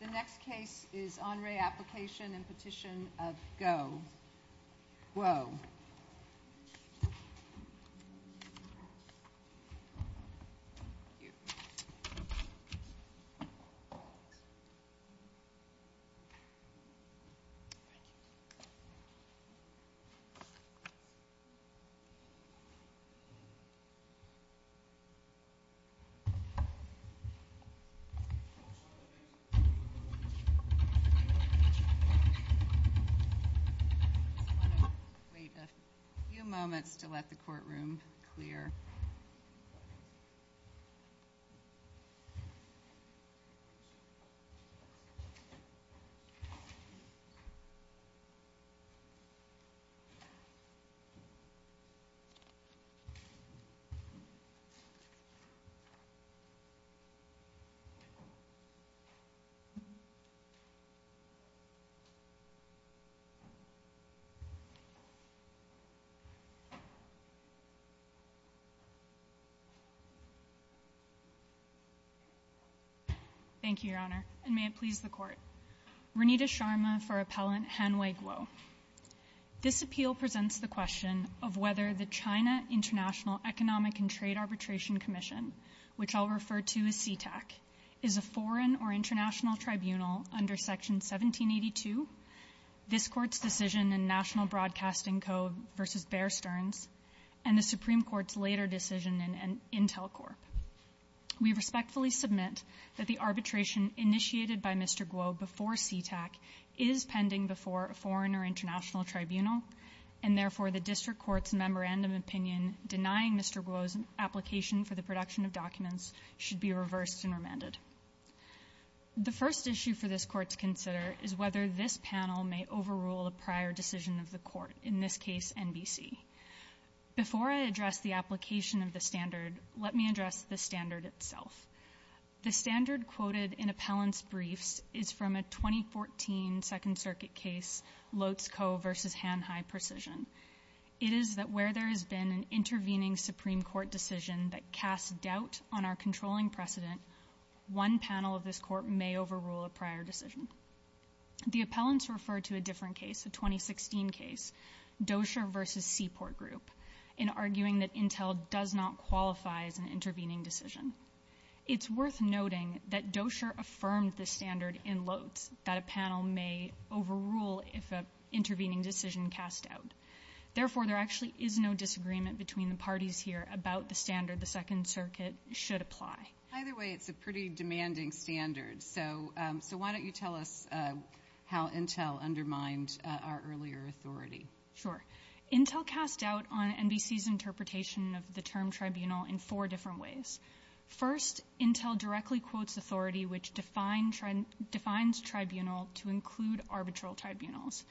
The next case is En Re Application and Petition of Guo. I just want to wait a few moments to let the courtroom clear. Thank you, Your Honour, and may it please the Court. Renita Sharma for Appellant Hanwei Guo. This appeal presents the question of whether the China International Economic and Trade Arbitration Commission, which I'll refer to as CTAC, is a foreign or international tribunal under Section 1782, this Court's decision in National Broadcasting Code v. Bear Stearns, and the Supreme Court's later decision in Intel Corp. We respectfully submit that the arbitration initiated by Mr. Guo before CTAC is pending before a foreign or international tribunal, and therefore the District Court's memorandum opinion denying Mr. Guo's application for the production of documents should be reversed and remanded. The first issue for this Court to consider is whether this panel may overrule a prior decision of the Court, in this case NBC. Before I address the application of the standard, let me address the standard itself. The standard quoted in appellant's briefs is from a 2014 Second Circuit case, Lotz Coe v. Hanhai Precision. It is that where there has been an intervening Supreme Court decision that casts doubt on our controlling precedent, one panel of this Court may overrule a prior decision. The appellants refer to a different case, a 2016 case, Dosher v. Seaport Group, in arguing that Intel does not qualify as an intervening decision. It's worth noting that Dosher affirmed this standard in Lotz, that a panel may overrule if an intervening decision is cast out. Therefore there actually is no disagreement between the parties here about the standard the Second Circuit should apply. Either way, it's a pretty demanding standard, so why don't you tell us how Intel undermined our earlier authority. Sure. Intel cast doubt on NBC's interpretation of the term tribunal in four different ways. First, Intel directly quotes authority which defines tribunal to include arbitral tribunals.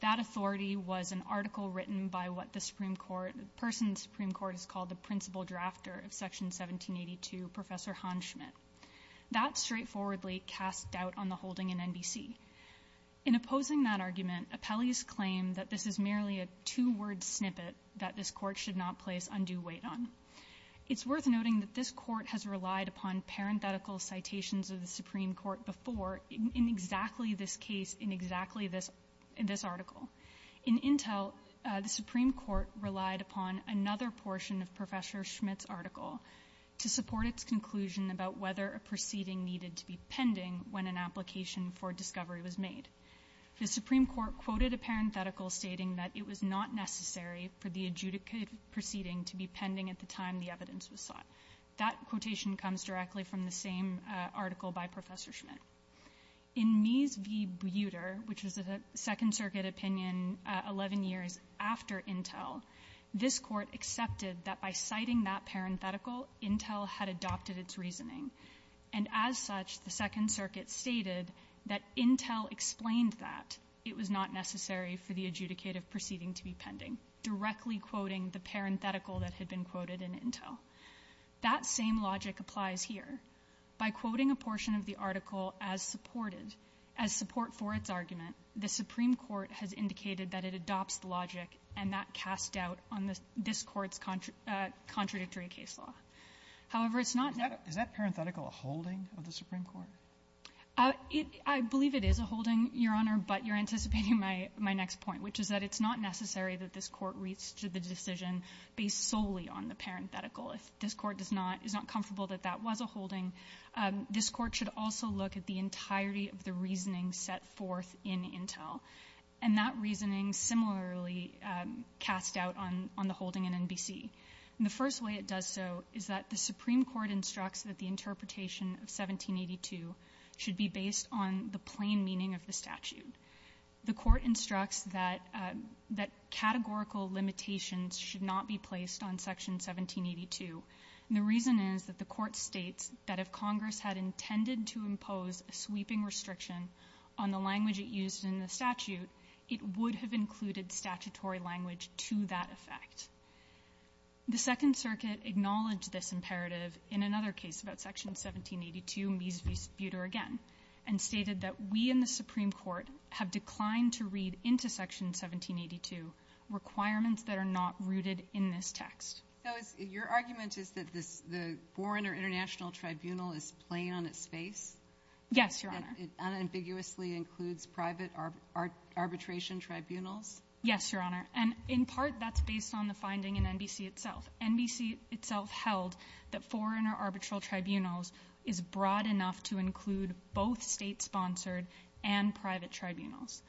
That authority was an article written by what the Supreme Court, the person the Supreme Court has called the principal drafter of Section 1782, Professor Hans Schmidt. That straightforwardly cast doubt on the holding in NBC. In opposing that argument, appellees claim that this is merely a two-word snippet that this Court should not place undue weight on. It's worth noting that this Court has relied upon parenthetical citations of the Supreme Court before in exactly this case, in exactly this article. In Intel, the Supreme Court relied upon another portion of Professor Schmidt's article to support its conclusion about whether a proceeding needed to be pending when an application for discovery was made. The Supreme Court quoted a parenthetical stating that it was not necessary for the adjudicated proceeding to be pending at the time the evidence was sought. That quotation comes directly from the same article by Professor Schmidt. In Mies v. Buder, which was a Second Circuit opinion 11 years after Intel, this Court accepted that by citing that parenthetical, Intel had adopted its reasoning. And as such, the Second Circuit stated that Intel explained that it was not necessary for the adjudicative proceeding to be pending, directly quoting the parenthetical that had been quoted in Intel. That same logic applies here. By quoting a portion of the article as supported, as support for its argument, the Supreme Court has indicated that it adopts the logic and that cast doubt on this Court's contradictory case law. However, it's not that the Supreme Court has indicated that it adopts the logic and that cast doubt on this Court's contradictory case law. My next point, which is that it's not necessary that this Court reach to the decision based solely on the parenthetical. If this Court does not — is not comfortable that that was a holding, this Court should also look at the entirety of the reasoning set forth in Intel. And that reasoning similarly cast doubt on — on the holding in NBC. And the first way it does so is that the Supreme Court instructs that the interpretation of 1782 should be based on the plain meaning of the statute. The Court instructs that — that categorical limitations should not be placed on Section 1782. And the reason is that the Court states that if Congress had intended to impose a sweeping restriction on the language it used in the statute, it would have included statutory language to that effect. The Second Circuit acknowledged this imperative in another case about Section 1782, Mies Supreme Court have declined to read into Section 1782 requirements that are not rooted in this text. So is — your argument is that this — the foreign or international tribunal is plain on its face? Yes, Your Honor. That it unambiguously includes private arbitration tribunals? Yes, Your Honor. And in part, that's based on the finding in NBC itself. NBC itself held that foreign or arbitral tribunals is broad enough to include both state-sponsored and private tribunals.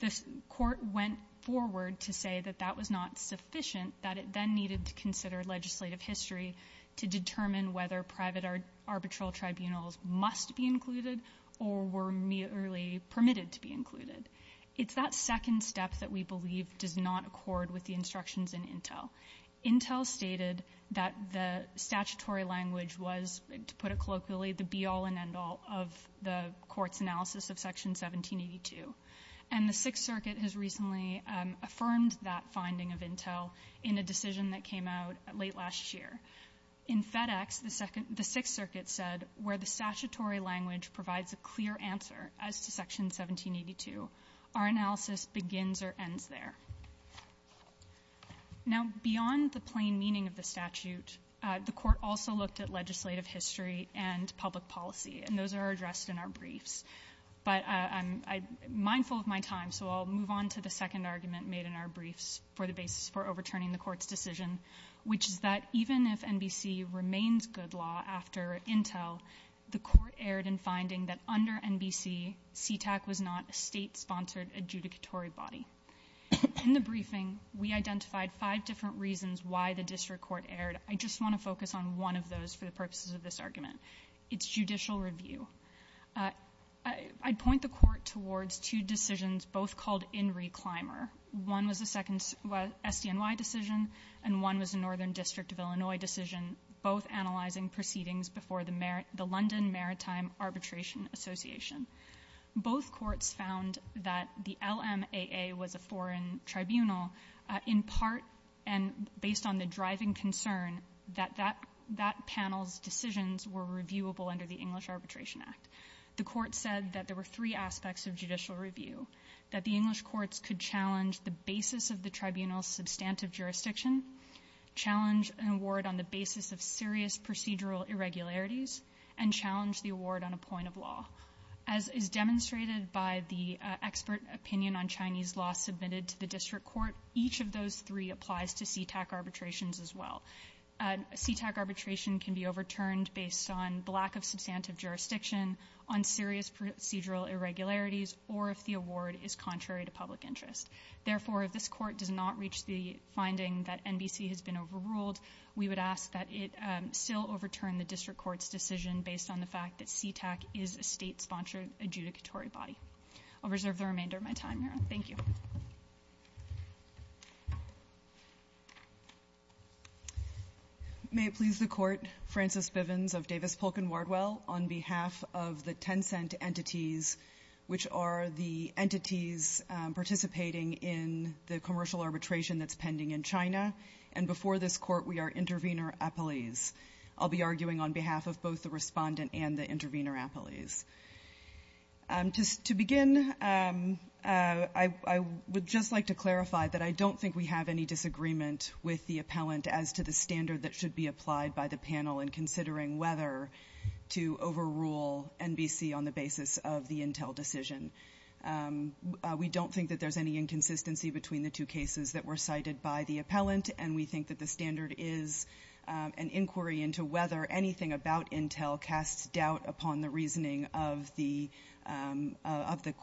The Court went forward to say that that was not sufficient, that it then needed to consider legislative history to determine whether private arbitral tribunals must be included or were merely permitted to be included. It's that second step that we believe does not accord with the instructions in Intel. Intel stated that the statutory language was, to put it colloquially, the be-all and end-all of the Court's analysis of Section 1782. And the Sixth Circuit has recently affirmed that finding of Intel in a decision that came out late last year. In FedEx, the Sixth Circuit said, where the statutory language provides a clear answer as to Section 1782, our analysis begins or ends there. Now, beyond the plain meaning of the statute, the Court also looked at legislative history and public policy, and those are addressed in our briefs. But I'm mindful of my time, so I'll move on to the second argument made in our briefs for the basis for overturning the Court's decision, which is that even if NBC remains good law after Intel, the Court erred in finding that under NBC, CTAC was not a state-sponsored adjudicatory body. In the briefing, we identified five different reasons why the district court erred. I just want to focus on one of those for the purposes of this argument. It's judicial review. I point the Court towards two decisions both called in reclimer. One was the second SDNY decision, and one was the Northern District of Illinois decision, both analyzing proceedings before the London Maritime Arbitration Association. Both courts found that the LMAA was a foreign tribunal in part and based on the driving concern that that panel's decisions were reviewable under the English Arbitration Act. The Court said that there were three aspects of judicial review, that the English courts could challenge the basis of the tribunal's substantive jurisdiction, challenge an award on the basis of serious procedural irregularities, and challenge the award on a point of law. As is demonstrated by the expert opinion on Chinese law submitted to the district court, each of those three applies to CTAC arbitrations as well. CTAC arbitration can be overturned based on the lack of substantive jurisdiction, on serious procedural irregularities, or if the award is contrary to public interest. Therefore, if this Court does not reach the finding that NBC has been overruled, we would ask that it still overturn the district court's decision based on the fact that CTAC is a state-sponsored adjudicatory body. I'll reserve the remainder of my time here. Thank you. Thank you. Thank you. Thank you. Thank you. May it please the Court, Frances Bivens of Davis, Polk & Wardwell, on behalf of the Tencent entities, which are the entities participating in the commercial arbitration that's pending in China, and before this Court, we are intervener appellees. I'll be arguing on behalf of both the respondent and the intervener appellees. To begin, I would just like to clarify that I don't think we have any disagreement with the appellant as to the standard that should be applied by the panel in considering whether to overrule NBC on the basis of the Intel decision. We don't think that there's any inconsistency between the two cases that were cited by the appellant, and we think that the standard is an inquiry into whether anything about Intel casts doubt upon the reasoning of the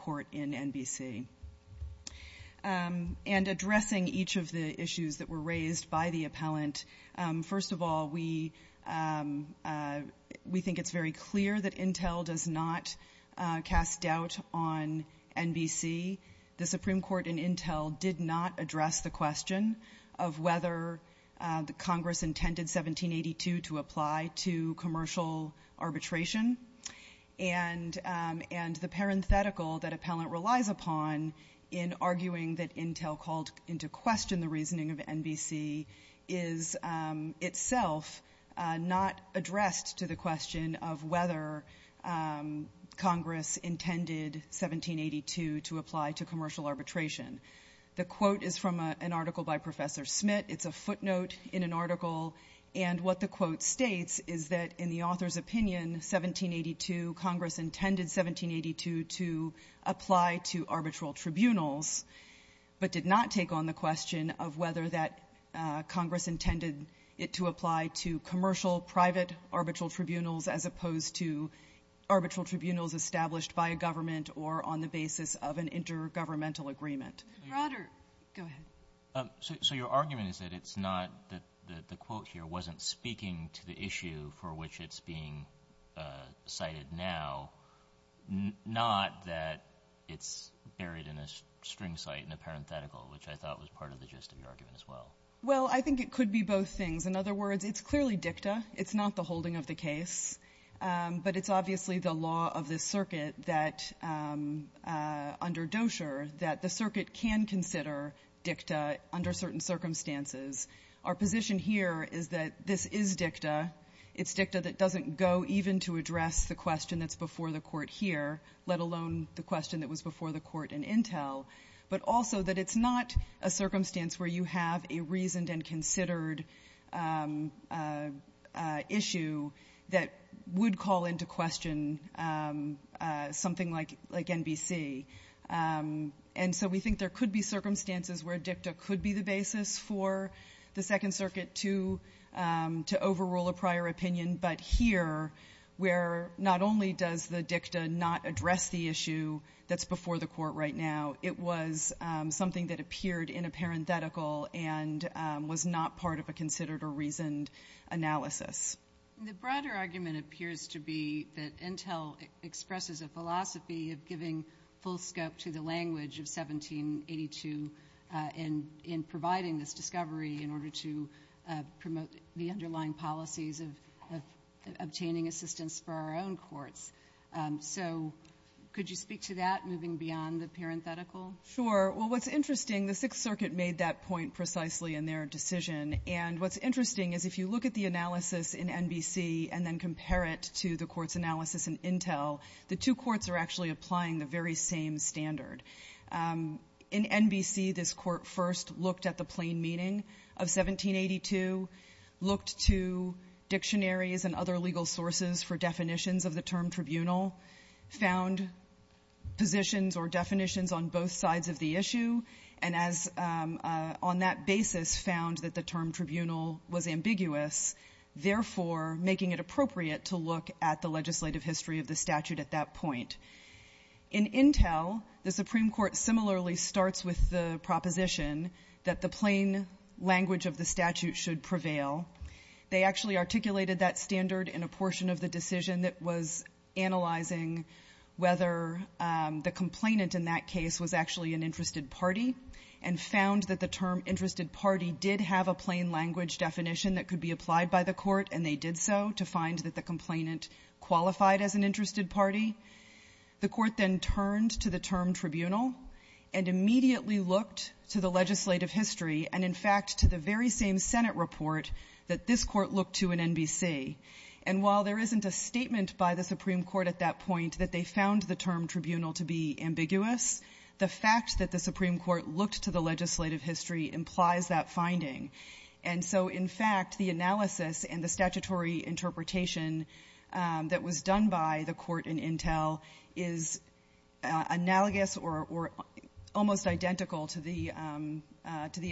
Court in NBC. And addressing each of the issues that were raised by the appellant, first of all, we think it's very clear that Intel does not cast doubt on NBC. The Supreme Court in Intel did not address the question of whether Congress intended 1782 to apply to commercial arbitration, and the parenthetical that appellant relies upon in arguing that Intel called into question the reasoning of NBC is itself not addressed to the question of whether Congress intended 1782 to apply to commercial arbitration. The quote is from an article by Professor And what the quote states is that in the author's opinion, 1782, Congress intended 1782 to apply to arbitral tribunals, but did not take on the question of whether that Congress intended it to apply to commercial private arbitral tribunals as opposed to arbitral tribunals established by a government or on the basis of an intergovernmental agreement. Go ahead. So your argument is that it's not that the quote here wasn't speaking to the issue for which it's being cited now, not that it's buried in a string site in a parenthetical, which I thought was part of the gist of your argument as well. Well, I think it could be both things. In other words, it's clearly dicta. It's not the holding of the case. But it's obviously the law of this circuit that under Dozier that the circuit can consider dicta under certain circumstances. Our position here is that this is dicta. It's dicta that doesn't go even to address the question that's before the Court here, let alone the question that was before the Court in Intel. But also that it's not a circumstance where you have a reasoned and considered issue that would call into question something like NBC. And so we think there could be circumstances where dicta could be the basis for the Second Circuit to overrule a prior opinion. But here, where not only does the dicta not address the issue that's before the Court right now, it was something that appeared in a parenthetical and was not part of a considered or reasoned analysis. The broader argument appears to be that Intel expresses a philosophy of giving full scope to the language of 1782 in providing this discovery in order to promote the underlying policies of obtaining assistance for our own courts. So could you speak to that moving beyond the parenthetical? Sure. Well, what's interesting, the Sixth Circuit made that point precisely in their decision. And what's interesting is if you look at the analysis in NBC and then compare it to the Court's analysis in Intel, the two courts are actually applying the very same standard. In NBC, this Court first looked at the plain meaning of 1782, looked to dictionaries and other legal sources for definitions of the term tribunal, found positions or definitions on both sides of the issue, and on that basis found that the term tribunal was ambiguous, therefore making it appropriate to look at the legislative history of the statute at that point. In Intel, the Supreme Court similarly starts with the proposition that the plain language of the statute should prevail. They actually articulated that standard in a portion of the decision that was was actually an interested party and found that the term interested party did have a plain language definition that could be applied by the Court, and they did so to find that the complainant qualified as an interested party. The Court then turned to the term tribunal and immediately looked to the legislative history and, in fact, to the very same Senate report that this Court looked to in NBC. And while there isn't a statement by the Supreme Court at that point that they found the term tribunal to be ambiguous, the fact that the Supreme Court looked to the legislative history implies that finding. And so, in fact, the analysis and the statutory interpretation that was done by the Court in Intel is analogous or almost identical to the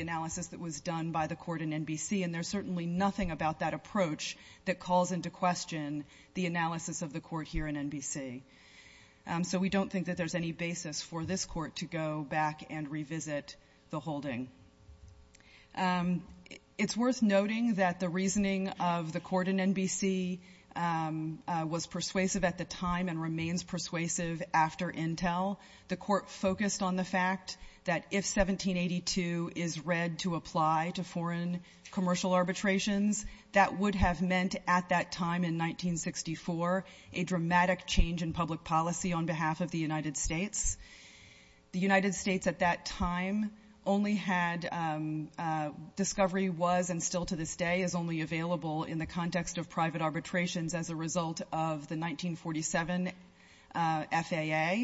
analysis that was done by the Court in NBC, and there's certainly nothing about that approach that calls into question the analysis of the Court here in NBC. So we don't think that there's any basis for this Court to go back and revisit the holding. It's worth noting that the reasoning of the Court in NBC was persuasive at the time and remains persuasive after Intel. The Court focused on the fact that if 1782 is read to apply to foreign commercial arbitrations, that would have meant at that time in 1964 a dramatic change in public policy on behalf of the United States. The United States at that time only had discovery was and still to this day is only available in the context of private arbitrations as a result of the 1947 FAA.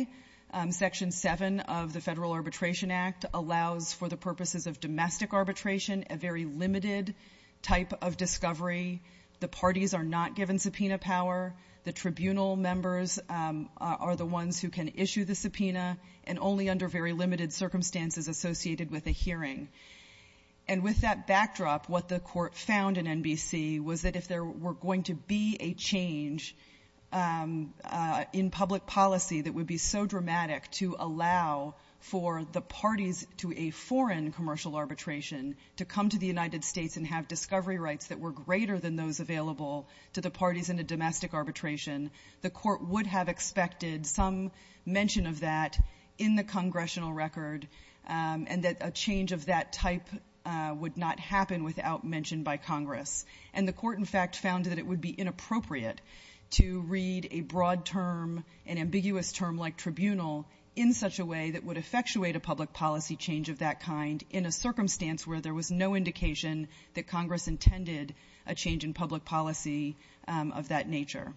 Section 7 of the Federal Arbitration Act allows for the purposes of domestic arbitration a very limited type of discovery. The parties are not given subpoena power. The tribunal members are the ones who can issue the subpoena and only under very limited circumstances associated with a hearing. And with that backdrop, what the Court found in NBC was that if there were going to be a change in public policy that would be so dramatic to allow for the parties to a United States and have discovery rights that were greater than those available to the parties in a domestic arbitration, the Court would have expected some mention of that in the congressional record and that a change of that type would not happen without mention by Congress. And the Court, in fact, found that it would be inappropriate to read a broad term, an ambiguous term like tribunal, in such a way that would effectuate a public policy change of that kind in a circumstance where there was no indication that Congress intended a change in public policy of that nature.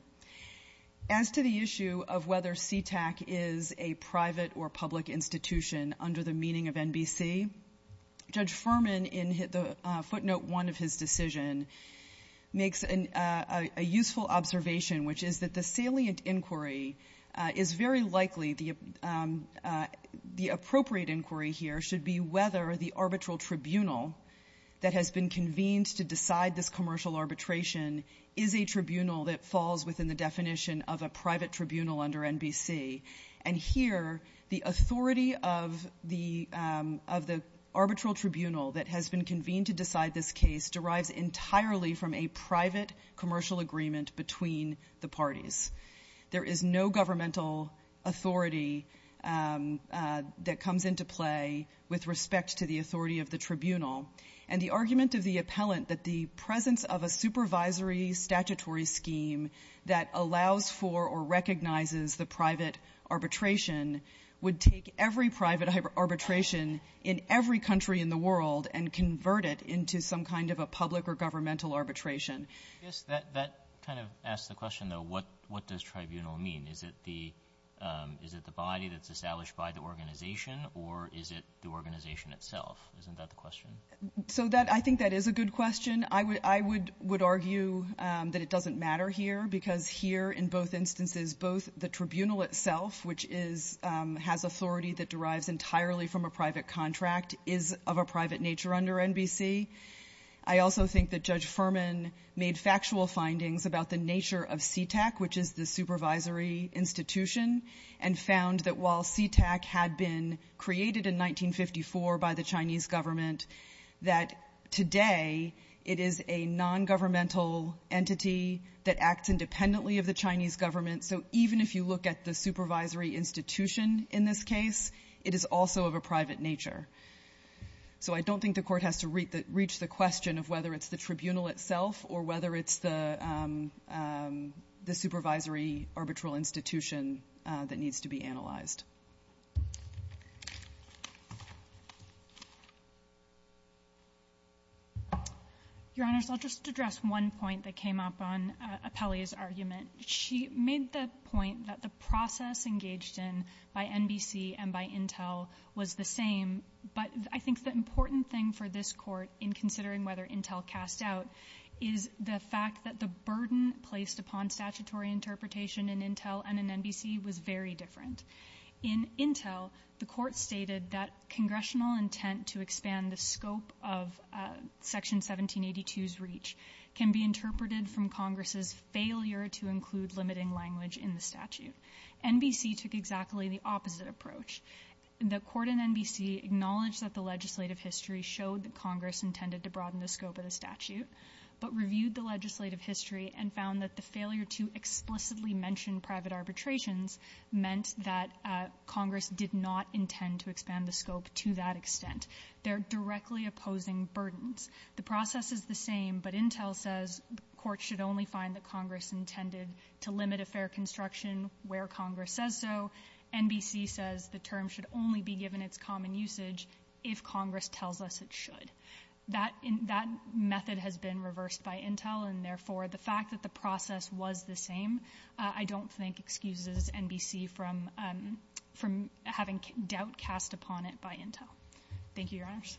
As to the issue of whether CTAC is a private or public institution under the meaning of NBC, Judge Furman in footnote 1 of his decision makes a useful observation, which is that the salient inquiry is very likely the appropriate inquiry here should be whether the arbitral tribunal that has been convened to decide this commercial arbitration is a tribunal that falls within the definition of a private tribunal under NBC. And here, the authority of the arbitral tribunal that has been convened to decide this case derives entirely from a private commercial agreement between the parties. There is no governmental authority that comes into play with respect to the authority of the tribunal. And the argument of the appellant that the presence of a supervisory statutory scheme that allows for or recognizes the private arbitration would take every private arbitration in every country in the world and convert it into some kind of a public or governmental arbitration. Roberts. Yes. That kind of asks the question, though, what does tribunal mean? Is it the body that's established by the organization, or is it the organization itself? Isn't that the question? So I think that is a good question. I would argue that it doesn't matter here, because here, in both instances, both the tribunal itself, which is — has authority that derives entirely from a private contract, is of a private nature under NBC. I also think that Judge Furman made factual findings about the nature of CTAC, which is the supervisory institution, and found that while CTAC had been created in 1954 by the Chinese government, that today it is a nongovernmental entity that acts independently of the Chinese government. So even if you look at the supervisory institution in this case, it is also of a private nature. So I don't think the Court has to reach the question of whether it's the tribunal itself or whether it's the supervisory arbitral institution that needs to be analyzed. Your Honors, I'll just address one point that came up on Apelli's argument. She made the point that the process engaged in by NBC and by Intel was the same. But I think the important thing for this Court, in considering whether Intel cast out, is the fact that the burden placed upon statutory interpretation in Intel and in Intel, the Court stated that congressional intent to expand the scope of Section 1782's reach can be interpreted from Congress's failure to include limiting language in the statute. NBC took exactly the opposite approach. The Court and NBC acknowledged that the legislative history showed that Congress intended to broaden the scope of the statute, but reviewed the legislative history and found that the failure to explicitly mention private arbitrations meant that Congress did not intend to expand the scope to that extent. They're directly opposing burdens. The process is the same, but Intel says the Court should only find that Congress intended to limit a fair construction where Congress says so. NBC says the term should only be given its common usage if Congress tells us it should. That method has been reversed by Intel, and therefore, the fact that the process was the same, I don't think, excuses NBC from having doubt cast upon it by Intel. Thank you, Your Honours.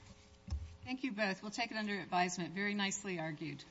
Thank you both. We'll take it under advisement. Very nicely argued.